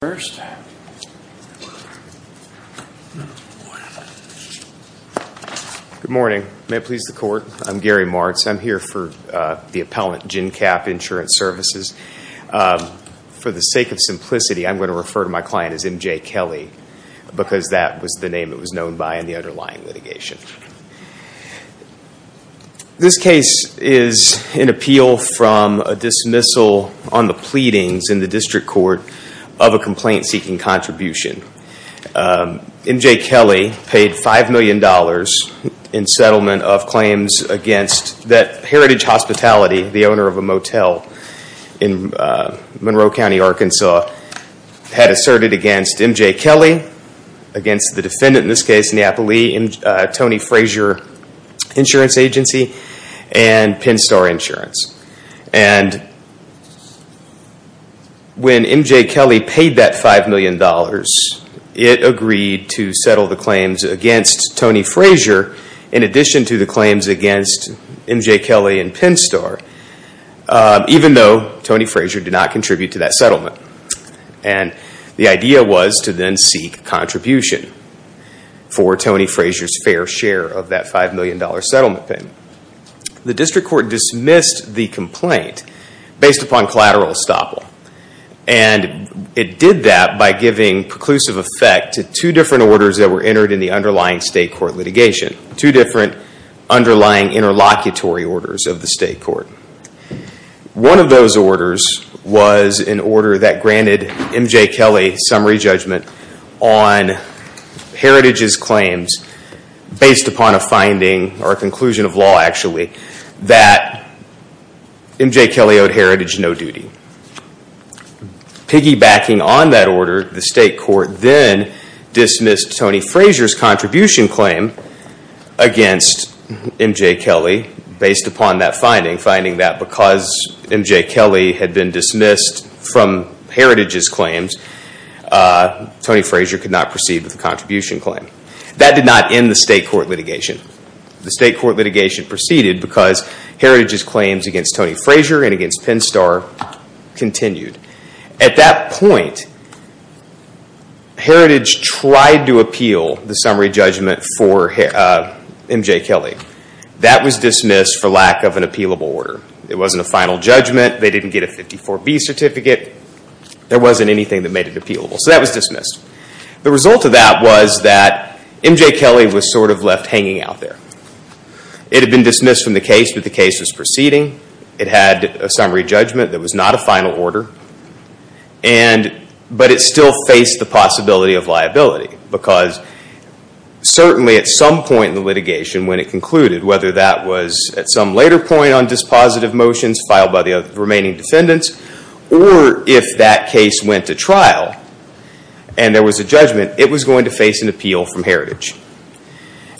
Good morning. May it please the Court. I'm Gary Martz. I'm here for the appellant, Gencap Insurance Services. For the sake of simplicity, I'm going to refer to my client as MJ Kelly, because that was the name it was known by in the underlying litigation. This case is an appeal from a dismissal on the pleadings in the district court of a complaint-seeking contribution. MJ Kelly paid $5 million in settlement of claims against Heritage Hospitality, the owner of a motel in Monroe County, Arkansas, had asserted against MJ Kelly, against the defendant in this case, Napoli, Toni Frazier Insurance Agency, and Pinstore Insurance. When MJ Kelly paid that $5 million, it agreed to settle the claims against Toni Frazier in addition to the claims against MJ Kelly and Pinstore, even though Toni Frazier did not contribute to that settlement. The idea was to then seek contribution for Toni Frazier's fair share of that $5 million settlement payment. The district court dismissed the complaint based upon collateral estoppel. It did that by giving preclusive effect to two different orders that were entered in the underlying state court litigation, two different underlying interlocutory orders of the state court. One of those orders was an order that granted MJ Kelly summary judgment on Heritage's claims based upon a finding, or a conclusion of law actually, that MJ Kelly owed Heritage no duty. Piggybacking on that order, the state court then dismissed Toni Frazier's contribution claim against MJ Kelly based upon that finding, finding that because MJ Kelly had been dismissed from Heritage's claims, Toni Frazier could not proceed with the contribution claim. That did not end the state court litigation. The state court litigation proceeded because Heritage's claims against Toni Frazier and against Pinstore continued. At that point, Heritage tried to appeal the summary judgment for MJ Kelly. That was dismissed for lack of an appealable order. It wasn't a final judgment. They didn't get a 54B certificate. There wasn't anything that made it appealable, so that was dismissed. The result of that was that MJ Kelly was sort of left hanging out there. It had been dismissed from the case, but the case was proceeding. It had a summary judgment that was not a final order, but it still faced the possibility of liability because certainly at some point in the litigation when it concluded, whether that was at some later point on dispositive motions filed by the remaining defendants or if that case went to trial and there was a judgment, it was going to face an appeal from Heritage.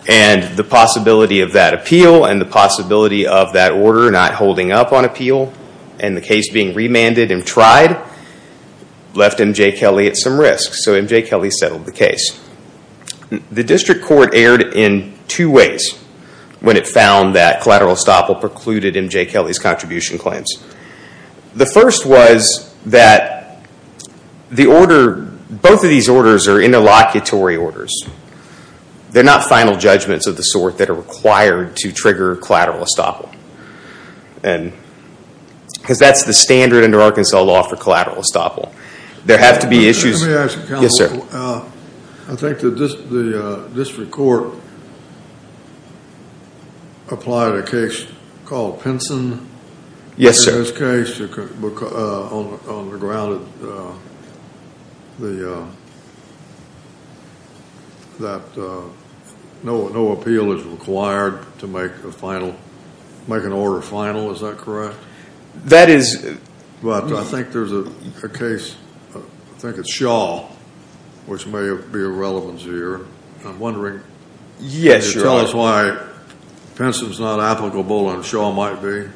The possibility of that appeal and the possibility of that order not holding up on appeal and the case being remanded and tried left MJ Kelly at some risk, so MJ Kelly settled the case. The district court erred in two ways when it found that collateral estoppel precluded MJ Kelly's contribution claims. The first was that both of these orders are interlocutory orders. They're not final judgments of the sort that are required to trigger collateral estoppel because that's the standard under Arkansas law for collateral estoppel. There have to be issues. Let me ask you, counsel. I think the district court applied a case called Pinson. Yes, sir. In this case on the ground that no appeal is required to make an order final. Is that correct? That is. But I think there's a case, I think it's Shaw, which may be of relevance here. I'm wondering if you could tell us why Pinson is not applicable and Shaw might be.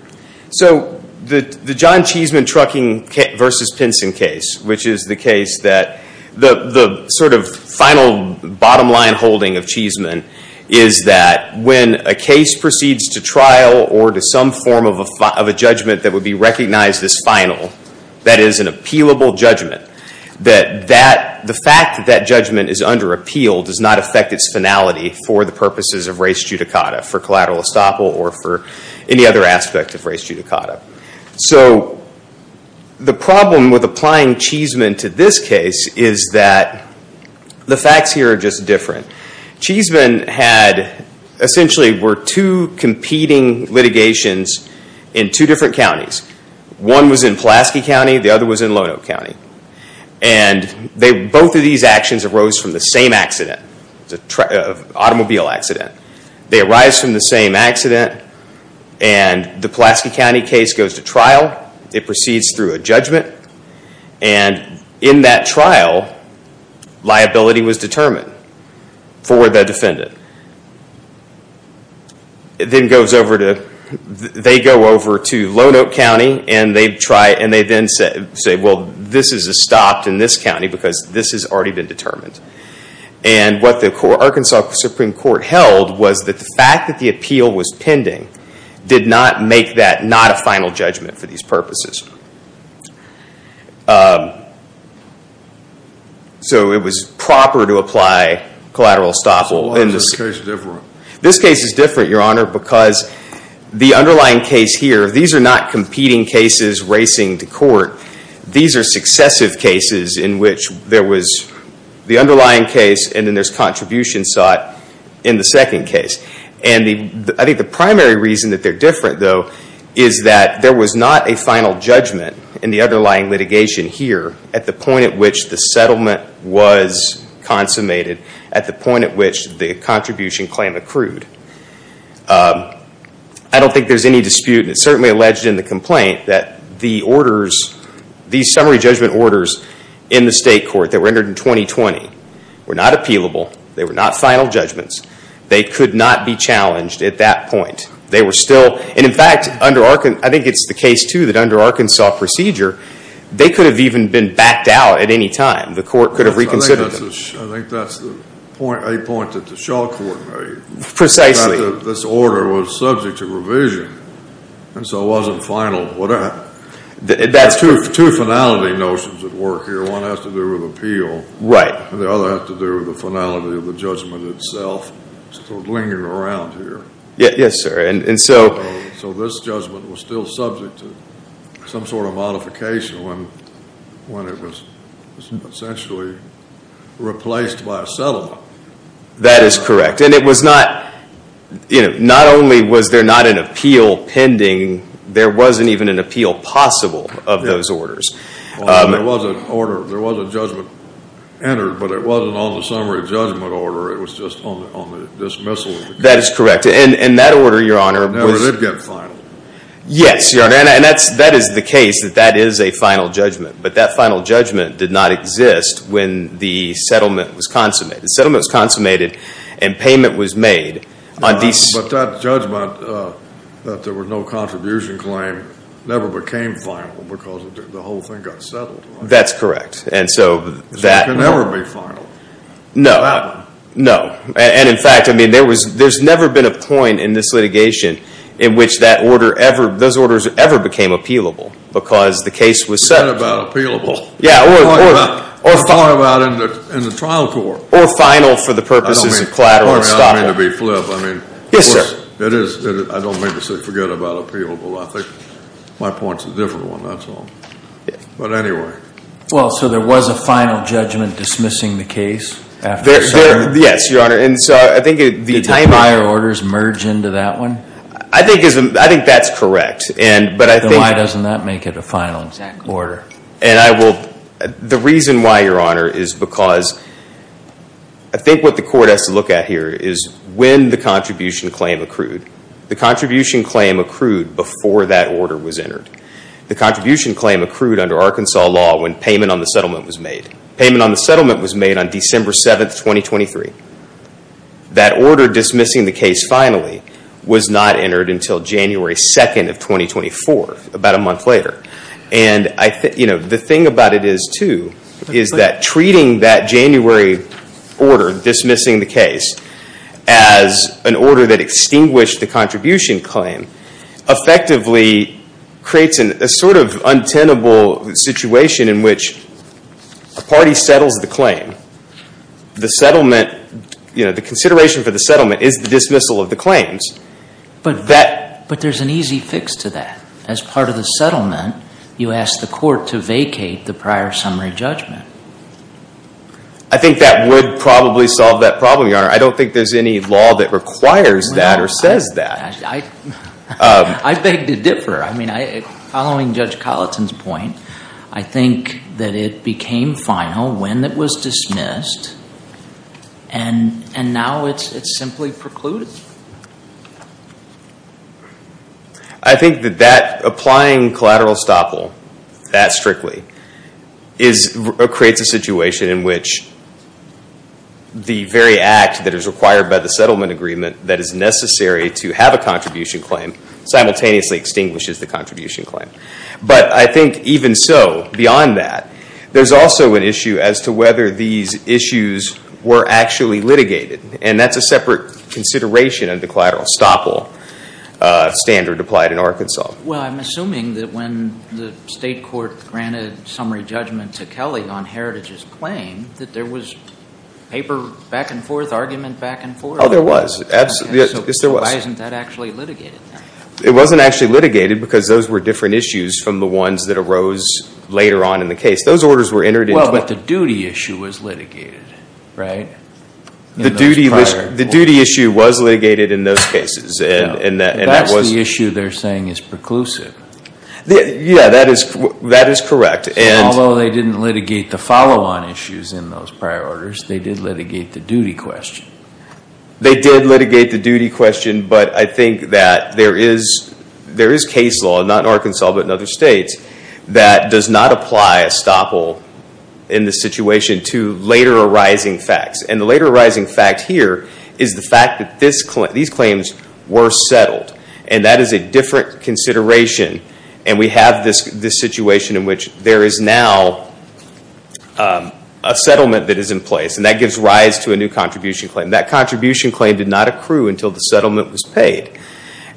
So the John Cheesman trucking versus Pinson case, which is the case that the sort of final bottom line holding of Cheesman is that when a case proceeds to trial or to some form of a judgment that would be recognized as final, that is an appealable judgment, that the fact that that judgment is under appeal does not affect its finality for the purposes of race judicata, for collateral estoppel or for any other aspect of race judicata. So the problem with applying Cheesman to this case is that the facts here are just different. Cheesman had, essentially were two competing litigations in two different counties. One was in Pulaski County, the other was in Lono County. And both of these actions arose from the same accident, an automobile accident. They arise from the same accident and the Pulaski County case goes to trial, it proceeds through a judgment, and in that trial liability was determined for the defendant. It then goes over to Lono County and they then say, well this is a stop in this county because this has already been determined. And what the Arkansas Supreme Court held was that the fact that the appeal was pending did not make that not a final judgment for these purposes. So it was proper to apply collateral estoppel. Why is this case different? This case is different, Your Honor, because the underlying case here, these are not competing cases racing to court. These are successive cases in which there was the underlying case and then there's contribution sought in the second case. And I think the primary reason that they're different though is that there was not a final judgment in the underlying litigation here at the point at which the settlement was consummated, at the point at which the contribution claim accrued. I don't think there's any dispute, and it's certainly alleged in the complaint, that these summary judgment orders in the state court that were entered in 2020 were not appealable. They were not final judgments. They could not be challenged at that point. They were still, and in fact, I think it's the case too that under Arkansas procedure, they could have even been backed out at any time. The court could have reconsidered them. I think that's a point that the Shaw Court made. Precisely. That this order was subject to revision, and so it wasn't final. There are two finality notions at work here. One has to do with appeal. Right. And the other has to do with the finality of the judgment itself, sort of lingering around here. Yes, sir. And so this judgment was still subject to some sort of modification when it was essentially replaced by a settlement. That is correct. And it was not, you know, not only was there not an appeal pending, there wasn't even an appeal possible of those orders. Well, there was an order, there was a judgment entered, but it wasn't on the summary judgment order. It was just on the dismissal of the case. That is correct. And that order, Your Honor. It never did get final. Yes, Your Honor. And that is the case, that that is a final judgment. But that final judgment did not exist when the settlement was consummated. The settlement was consummated and payment was made. But that judgment, that there was no contribution claim, never became final because the whole thing got settled. That's correct. And so that. So it can never be final. No. And, in fact, I mean, there's never been a point in this litigation in which that order ever, those orders ever became appealable because the case was settled. Forget about appealable. Yeah. Or final. Or far about in the trial court. Or final for the purposes of collateral estoppel. I don't mean to be flip. I mean. Yes, sir. It is. I don't mean to say forget about appealable. I think my point is a different one. That's all. But anyway. Well, so there was a final judgment dismissing the case after the settlement? Yes, Your Honor. And so I think. Did the prior orders merge into that one? I think that's correct. But I think. Then why doesn't that make it a final order? And I will. The reason why, Your Honor, is because I think what the court has to look at here is when the contribution claim accrued. The contribution claim accrued before that order was entered. The contribution claim accrued under Arkansas law when payment on the settlement was made. Payment on the settlement was made on December 7th, 2023. That order dismissing the case finally was not entered until January 2nd of 2024, about a month later. And the thing about it is, too, is that treating that January order dismissing the case as an order that extinguished the contribution claim effectively creates a sort of untenable situation in which a party settles the claim. The settlement, you know, the consideration for the settlement is the dismissal of the claims. But there's an easy fix to that. As part of the settlement, you ask the court to vacate the prior summary judgment. I think that would probably solve that problem, Your Honor. I don't think there's any law that requires that or says that. I beg to differ. I mean, following Judge Colleton's point, I think that it became final when it was dismissed. And now it's simply precluded. I think that applying collateral estoppel that strictly creates a situation in which the very act that is required by the settlement agreement that is necessary to have a contribution claim simultaneously extinguishes the contribution claim. But I think even so, beyond that, there's also an issue as to whether these issues were actually litigated. And that's a separate consideration of the collateral estoppel standard applied in Arkansas. Well, I'm assuming that when the state court granted summary judgment to Kelly on Heritage's claim, that there was paper back and forth, argument back and forth? Oh, there was. Yes, there was. So why isn't that actually litigated then? It wasn't actually litigated because those were different issues from the ones that arose later on in the case. Those orders were entered into. Well, but the duty issue was litigated, right? The duty issue was litigated in those cases. That's the issue they're saying is preclusive. Yeah, that is correct. Although they didn't litigate the follow-on issues in those prior orders, they did litigate the duty question. They did litigate the duty question, but I think that there is case law, not in Arkansas but in other states, that does not apply estoppel in this situation to later arising facts. And the later arising fact here is the fact that these claims were settled. And that is a different consideration. And we have this situation in which there is now a settlement that is in place, and that gives rise to a new contribution claim. That contribution claim did not accrue until the settlement was paid.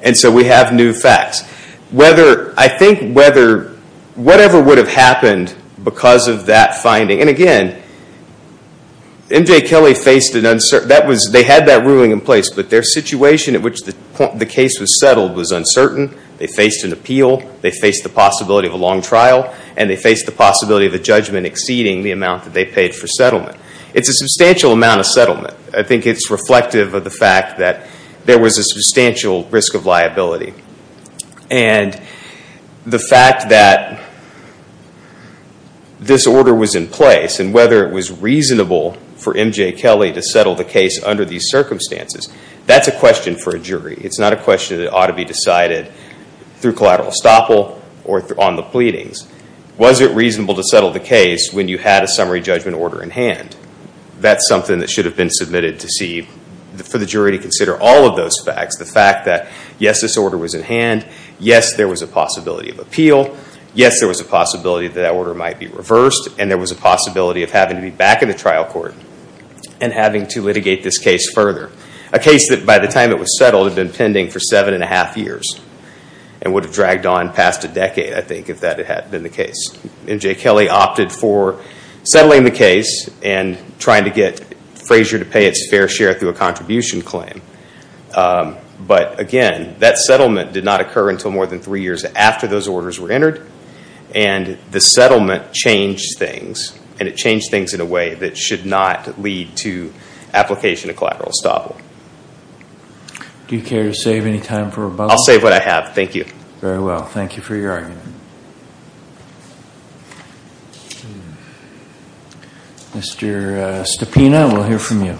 And so we have new facts. I think whatever would have happened because of that finding, and again, MJ Kelly faced an uncertain, they had that ruling in place, but their situation at which the case was settled was uncertain. They faced an appeal. They faced the possibility of a long trial. And they faced the possibility of a judgment exceeding the amount that they paid for settlement. It's a substantial amount of settlement. I think it's reflective of the fact that there was a substantial risk of liability. And the fact that this order was in place, and whether it was reasonable for MJ Kelly to settle the case under these circumstances, that's a question for a jury. It's not a question that ought to be decided through collateral estoppel or on the pleadings. Was it reasonable to settle the case when you had a summary judgment order in hand? That's something that should have been submitted to see for the jury to consider all of those facts. The fact that, yes, this order was in hand. Yes, there was a possibility of appeal. Yes, there was a possibility that that order might be reversed. And there was a possibility of having to be back in the trial court and having to litigate this case further. A case that by the time it was settled had been pending for seven and a half years and would have dragged on past a decade, I think, if that had been the case. MJ Kelly opted for settling the case and trying to get Frazier to pay its fair share through a contribution claim. But, again, that settlement did not occur until more than three years after those orders were entered. And the settlement changed things, and it changed things in a way that should not lead to application of collateral estoppel. Do you care to save any time for rebuttal? I'll save what I have. Thank you. Very well. Thank you for your argument. Mr. Stapina, we'll hear from you.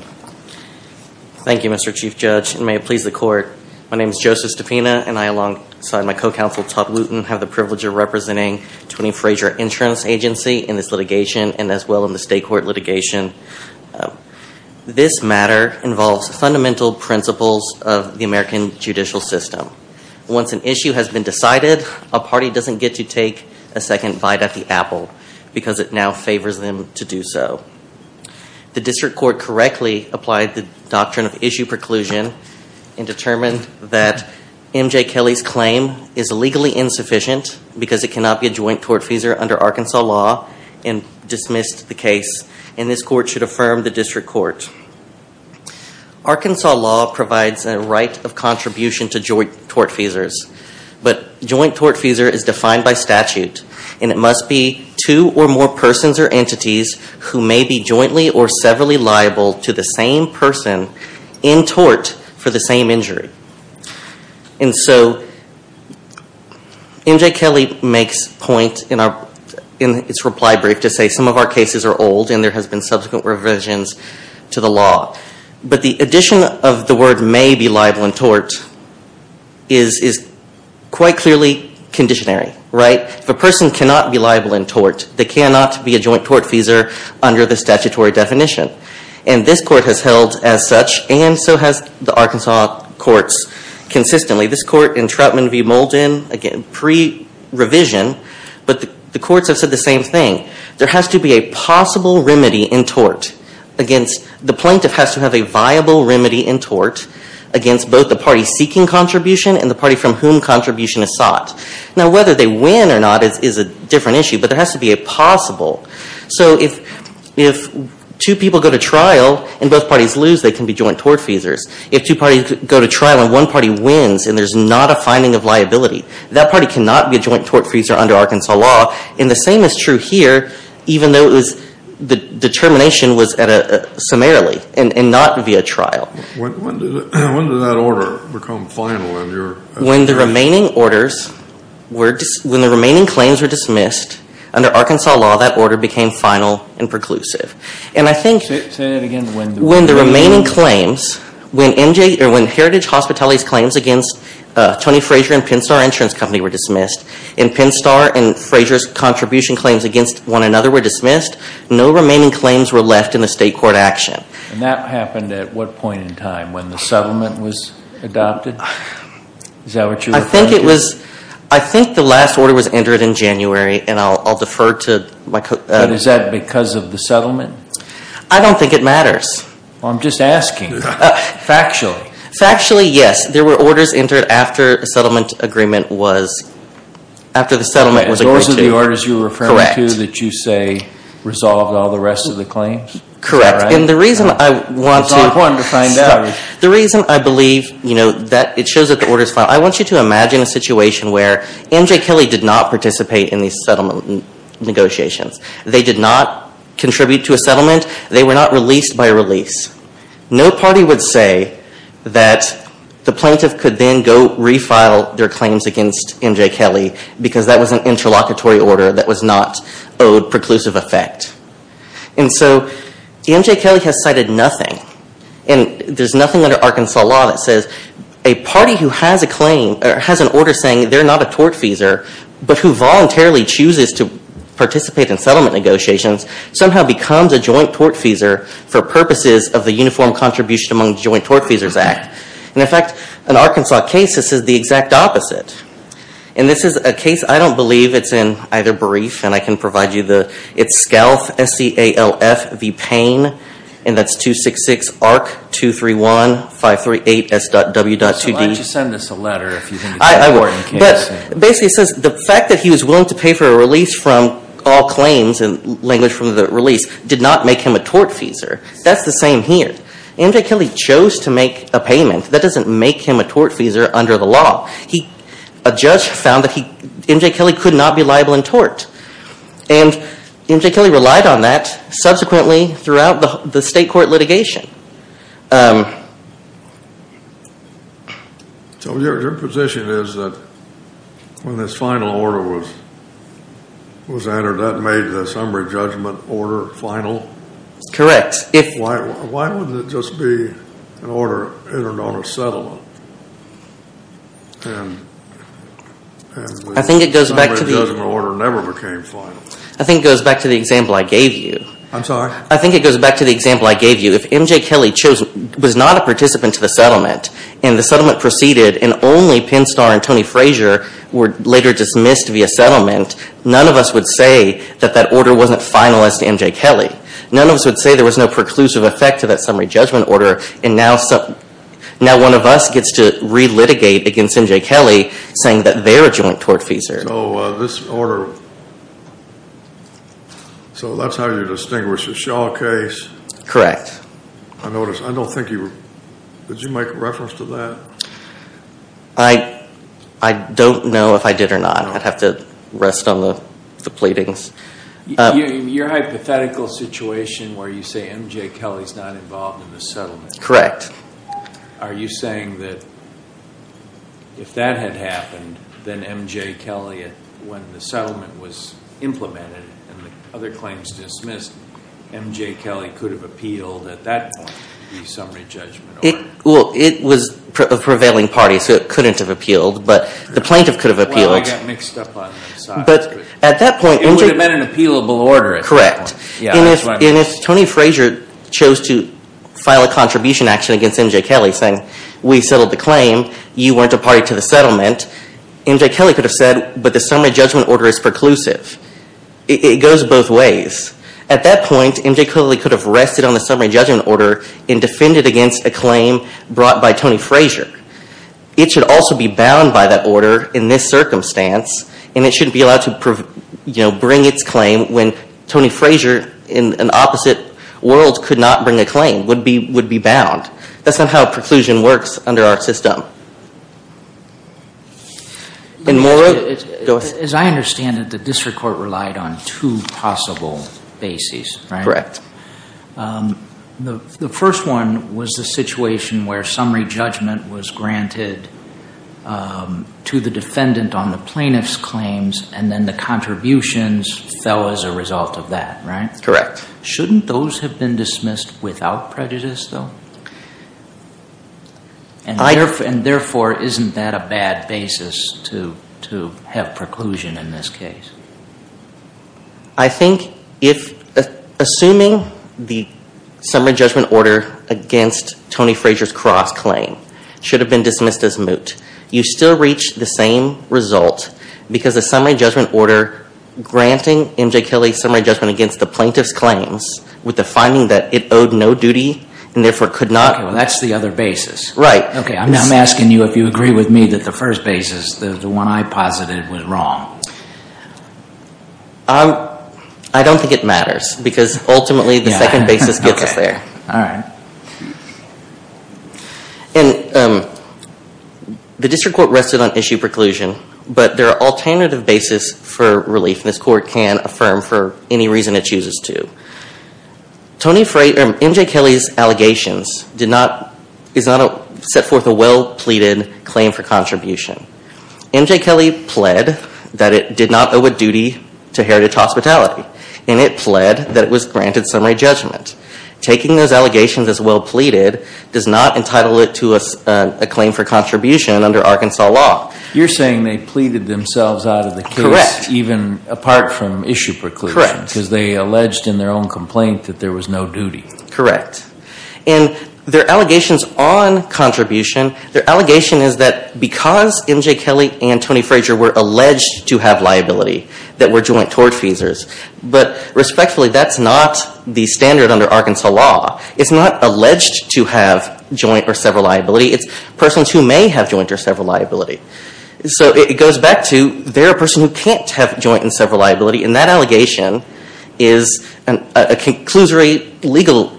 Thank you, Mr. Chief Judge, and may it please the Court. My name is Joseph Stapina, and I, alongside my co-counsel, Todd Luton, have the privilege of representing Tony Frazier Insurance Agency in this litigation and as well in the state court litigation. This matter involves fundamental principles of the American judicial system. Once an issue has been decided, a party doesn't get to take a second bite at the apple because it now favors them to do so. The district court correctly applied the doctrine of issue preclusion and determined that MJ Kelly's claim is legally insufficient because it cannot be a joint tortfeasor under Arkansas law and dismissed the case, and this court should affirm the district court. Arkansas law provides a right of contribution to joint tortfeasors, but joint tortfeasor is defined by statute, and it must be two or more persons or entities who may be jointly or severally liable to the same person in tort for the same injury. And so MJ Kelly makes point in its reply brief to say some of our cases are old and there has been subsequent revisions to the law. But the addition of the word may be liable in tort is quite clearly conditionary, right? If a person cannot be liable in tort, they cannot be a joint tortfeasor under the statutory definition. And this court has held as such, and so has the Arkansas courts consistently. This court in Troutman v. Molden, again pre-revision, but the courts have said the same thing. There has to be a possible remedy in tort against the plaintiff has to have a viable remedy in tort against both the party seeking contribution and the party from whom contribution is sought. Now whether they win or not is a different issue, but there has to be a possible. So if two people go to trial and both parties lose, they can be joint tortfeasors. If two parties go to trial and one party wins and there's not a finding of liability, that party cannot be a joint tortfeasor under Arkansas law. And the same is true here, even though the determination was summarily and not via trial. When did that order become final? When the remaining orders, when the remaining claims were dismissed, under Arkansas law that order became final and preclusive. Say that again. When the remaining claims, when Heritage Hospitality's claims against Tony Frazier and Pinstar Insurance Company were dismissed, and Pinstar and Frazier's contribution claims against one another were dismissed, no remaining claims were left in the state court action. And that happened at what point in time? When the settlement was adopted? Is that what you're referring to? I think it was, I think the last order was entered in January, and I'll defer to my co- And is that because of the settlement? I don't think it matters. I'm just asking. Factually. Factually, yes. There were orders entered after a settlement agreement was, after the settlement was agreed to. Those are the orders you're referring to that you say resolved all the rest of the claims? Correct. And the reason I want to It's not important to find out. The reason I believe, you know, that it shows that the order is final, I want you to imagine a situation where MJ Kelly did not participate in these settlement negotiations. They did not contribute to a settlement. They were not released by release. No party would say that the plaintiff could then go refile their claims against MJ Kelly because that was an interlocutory order that was not owed preclusive effect. And so MJ Kelly has cited nothing. And there's nothing under Arkansas law that says a party who has a claim, or has an order saying they're not a tortfeasor, but who voluntarily chooses to participate in settlement negotiations, somehow becomes a joint tortfeasor for purposes of the Uniform Contribution Among Joint Tortfeasors Act. And in fact, in an Arkansas case, this is the exact opposite. And this is a case, I don't believe it's in either brief, and I can provide you the, it's SCALF, S-C-A-L-F, v. Payne, and that's 266-ARC-231-538-S.W.2D. So why don't you send us a letter if you think it's an important case? But basically it says the fact that he was willing to pay for a release from all claims, and language from the release, did not make him a tortfeasor. That's the same here. MJ Kelly chose to make a payment. That doesn't make him a tortfeasor under the law. A judge found that MJ Kelly could not be liable in tort. And MJ Kelly relied on that subsequently throughout the state court litigation. So your position is that when this final order was entered, that made the summary judgment order final? Correct. Why wouldn't it just be an order entered on a settlement? And the summary judgment order never became final. I think it goes back to the example I gave you. I'm sorry? I think it goes back to the example I gave you. If MJ Kelly was not a participant to the settlement, and the settlement proceeded and only Pinstar and Tony Frazier were later dismissed via settlement, none of us would say that that order wasn't final as to MJ Kelly. None of us would say there was no preclusive effect to that summary judgment order. And now one of us gets to relitigate against MJ Kelly saying that they're a joint tortfeasor. So this order, so that's how you distinguish a Shaw case? Correct. I noticed. I don't think you were. Did you make reference to that? I don't know if I did or not. I'd have to rest on the pleadings. Your hypothetical situation where you say MJ Kelly's not involved in the settlement. Correct. Are you saying that if that had happened, then MJ Kelly, when the settlement was implemented and the other claims dismissed, MJ Kelly could have appealed at that point the summary judgment order? Well, it was a prevailing party, so it couldn't have appealed. But the plaintiff could have appealed. Well, I got mixed up on those sides. It would have been an appealable order at that point. And if Tony Frazier chose to file a contribution action against MJ Kelly saying we settled the claim, you weren't a party to the settlement, MJ Kelly could have said, but the summary judgment order is preclusive. It goes both ways. At that point, MJ Kelly could have rested on the summary judgment order and defended against a claim brought by Tony Frazier. It should also be bound by that order in this circumstance, and it shouldn't be allowed to bring its claim when Tony Frazier, in an opposite world, could not bring a claim, would be bound. That's not how preclusion works under our system. As I understand it, the district court relied on two possible bases, right? The first one was the situation where summary judgment was granted to the defendant on the plaintiff's claims, and then the contributions fell as a result of that, right? Correct. Shouldn't those have been dismissed without prejudice, though? And therefore, isn't that a bad basis to have preclusion in this case? I think, assuming the summary judgment order against Tony Frazier's cross-claim should have been dismissed as moot, you still reach the same result because the summary judgment order granting MJ Kelly's summary judgment against the plaintiff's claims with the finding that it owed no duty and therefore could not. Okay, well that's the other basis. Right. Okay, I'm asking you if you agree with me that the first basis, the one I posited, was wrong. I don't think it matters, because ultimately the second basis gets us there. Okay, all right. And the district court rested on issue preclusion, but there are alternative bases for relief, and this court can affirm for any reason it chooses to. MJ Kelly's allegations set forth a well-pleaded claim for contribution. MJ Kelly pled that it did not owe a duty to Heritage Hospitality, and it pled that it was granted summary judgment. Taking those allegations as well-pleaded does not entitle it to a claim for contribution under Arkansas law. You're saying they pleaded themselves out of the case, even apart from issue preclusion. Correct. Because they alleged in their own complaint that there was no duty. And their allegations on contribution, their allegation is that because MJ Kelly and Tony Frazier were alleged to have liability, that were joint tort feasors. But respectfully, that's not the standard under Arkansas law. It's not alleged to have joint or several liability. It's persons who may have joint or several liability. So it goes back to they're a person who can't have joint and several liability, and that allegation is a conclusory legal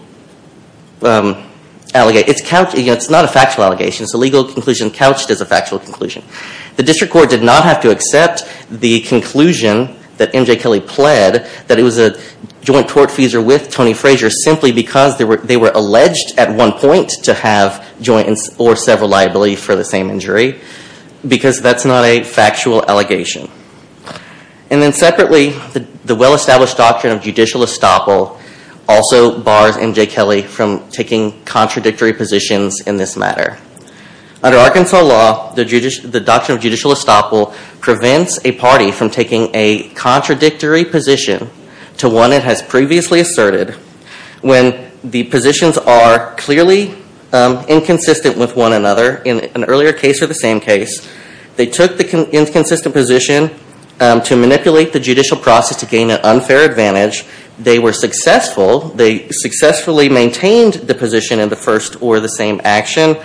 allegation. It's not a factual allegation. It's a legal conclusion couched as a factual conclusion. The district court did not have to accept the conclusion that MJ Kelly pled that it was a joint tort feasor with Tony Frazier, simply because they were alleged at one point to have joint or several liability for the same injury. Because that's not a factual allegation. And then separately, the well-established doctrine of judicial estoppel also bars MJ Kelly from taking contradictory positions in this matter. Under Arkansas law, the doctrine of judicial estoppel prevents a party from taking a contradictory position to one it has previously asserted when the positions are clearly inconsistent with one another. In an earlier case or the same case, they took the inconsistent position to manipulate the judicial process to gain an unfair advantage. They were successful. They successfully maintained the position in the first or the same action,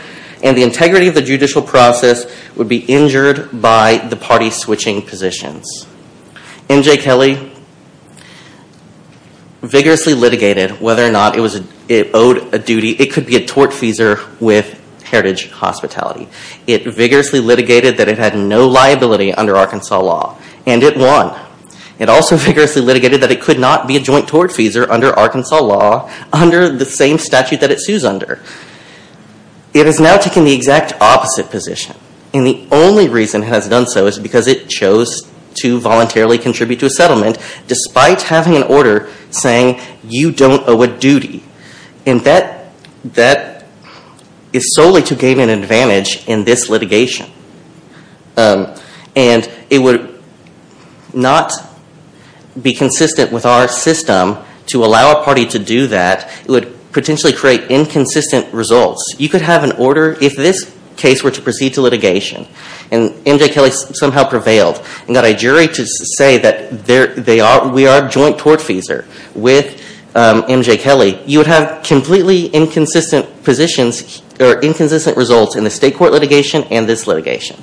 and the integrity of the judicial process would be injured by the party switching positions. MJ Kelly vigorously litigated whether or not it owed a duty. It could be a tort feasor with Heritage Hospitality. It vigorously litigated that it had no liability under Arkansas law, and it won. It also vigorously litigated that it could not be a joint tort feasor under Arkansas law under the same statute that it sues under. It has now taken the exact opposite position, and the only reason it has done so is because it chose to voluntarily contribute to a settlement despite having an order saying you don't owe a duty. That is solely to gain an advantage in this litigation, and it would not be consistent with our system to allow a party to do that. It would potentially create inconsistent results. You could have an order. If this case were to proceed to litigation and MJ Kelly somehow prevailed and got a jury to say that we are a joint tort feasor with MJ Kelly, you would have completely inconsistent positions or inconsistent results in the state court litigation and this litigation.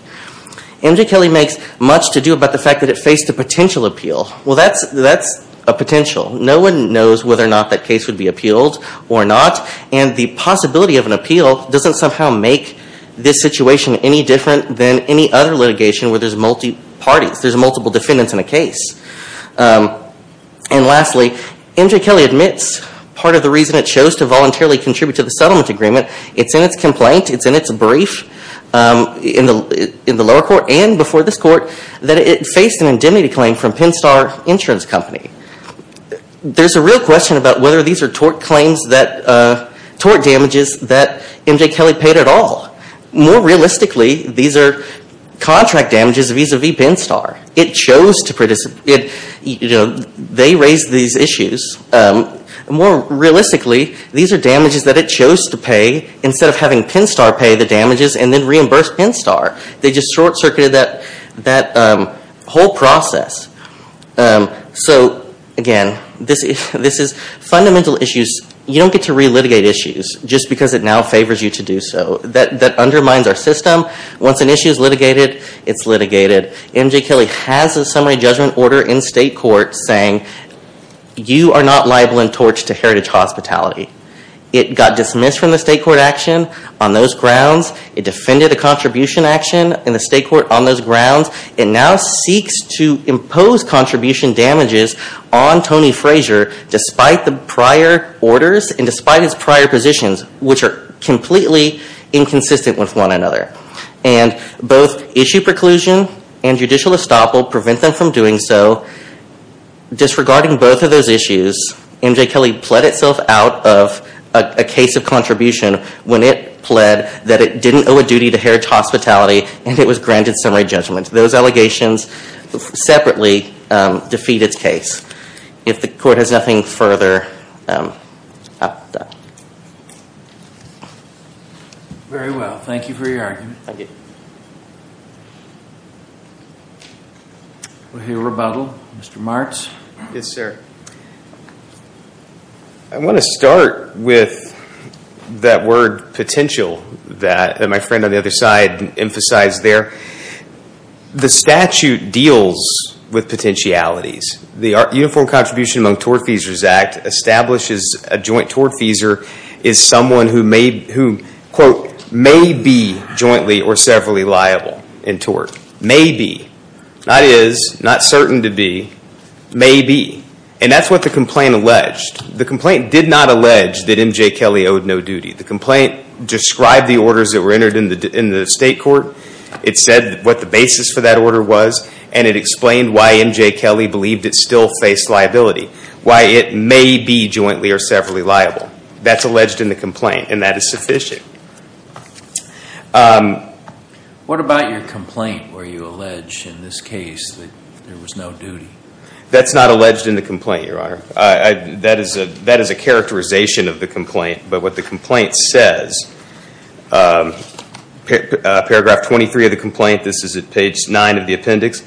MJ Kelly makes much to do about the fact that it faced a potential appeal. Well, that's a potential. No one knows whether or not that case would be appealed or not, and the possibility of an appeal doesn't somehow make this situation any different than any other litigation where there's multi-parties. There's multiple defendants in a case. And lastly, MJ Kelly admits part of the reason it chose to voluntarily contribute to the settlement agreement. It's in its complaint. It's in its brief in the lower court and before this court that it faced an indemnity claim from Pinstar Insurance Company. There's a real question about whether these are tort damages that MJ Kelly paid at all. More realistically, these are contract damages vis-à-vis Pinstar. It chose to participate. They raised these issues. More realistically, these are damages that it chose to pay instead of having Pinstar pay the damages and then reimburse Pinstar. They just short-circuited that whole process. So again, this is fundamental issues. You don't get to re-litigate issues just because it now favors you to do so. That undermines our system. Once an issue is litigated, it's litigated. MJ Kelly has a summary judgment order in state court saying you are not liable in torts to heritage hospitality. It got dismissed from the state court action on those grounds. It defended a contribution action in the state court on those grounds. It now seeks to impose contribution damages on Tony Frazier despite the prior orders and despite his prior positions, which are completely inconsistent with one another. Both issue preclusion and judicial estoppel prevent them from doing so. Disregarding both of those issues, MJ Kelly pled itself out of a case of contribution when it pled that it didn't owe a duty to heritage hospitality and it was granted summary judgment. Those allegations separately defeat its case. If the court has nothing further. Very well. Thank you for your argument. Thank you. We'll hear rebuttal. Mr. Martz. Yes, sir. I want to start with that word potential that my friend on the other side emphasized there. The statute deals with potentialities. The Uniform Contribution Among Tort Feasers Act establishes a joint tort feaser is someone who may be jointly or severally liable in tort. May be. Not is. Not certain to be. May be. And that's what the complaint alleged. The complaint did not allege that MJ Kelly owed no duty. The complaint described the orders that were entered in the state court. It said what the basis for that order was and it explained why MJ Kelly believed it still faced liability. Why it may be jointly or severally liable. That's alleged in the complaint and that is sufficient. What about your complaint where you allege in this case that there was no duty? That's not alleged in the complaint, Your Honor. That is a characterization of the complaint. But what the complaint says, paragraph 23 of the complaint, this is at page 9 of the appendix.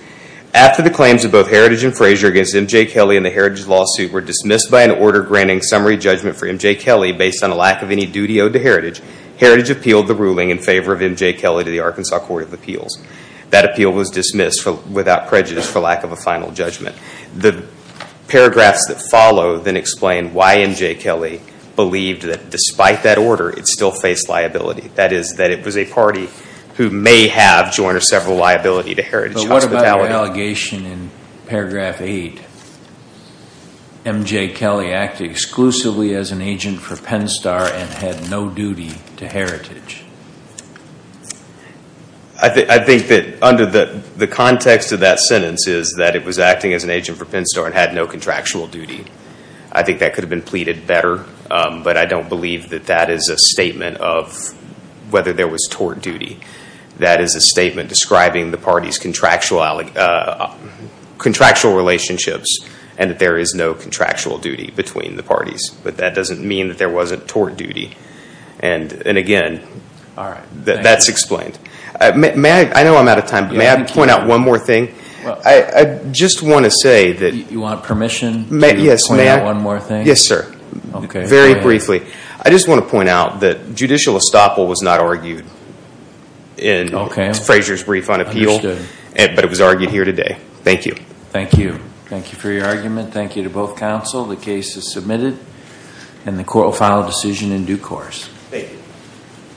After the claims of both Heritage and Frazier against MJ Kelly in the Heritage lawsuit were dismissed by an order granting summary judgment for MJ Kelly based on a lack of any duty owed to Heritage, Heritage appealed the ruling in favor of MJ Kelly to the Arkansas Court of Appeals. That appeal was dismissed without prejudice for lack of a final judgment. The paragraphs that follow then explain why MJ Kelly believed that despite that order, it still faced liability. That is that it was a party who may have jointly or severally liability to Heritage. But what about the allegation in paragraph 8, MJ Kelly acted exclusively as an agent for Penn Star and had no duty to Heritage? I think that under the context of that sentence is that it was acting as an agent for Penn Star and had no contractual duty. I think that could have been pleaded better, but I don't believe that that is a statement of whether there was tort duty. That is a statement describing the party's contractual relationships and that there is no contractual duty between the parties. But that doesn't mean that there wasn't tort duty. And again, that's explained. I know I'm out of time, but may I point out one more thing? I just want to say that… You want permission to point out one more thing? Yes, sir. Very briefly. I just want to point out that judicial estoppel was not argued in Frazier's brief on appeal, but it was argued here today. Thank you. Thank you. Thank you for your argument. Thank you to both counsel. The case is submitted, and the court will file a decision in due course. Thank you.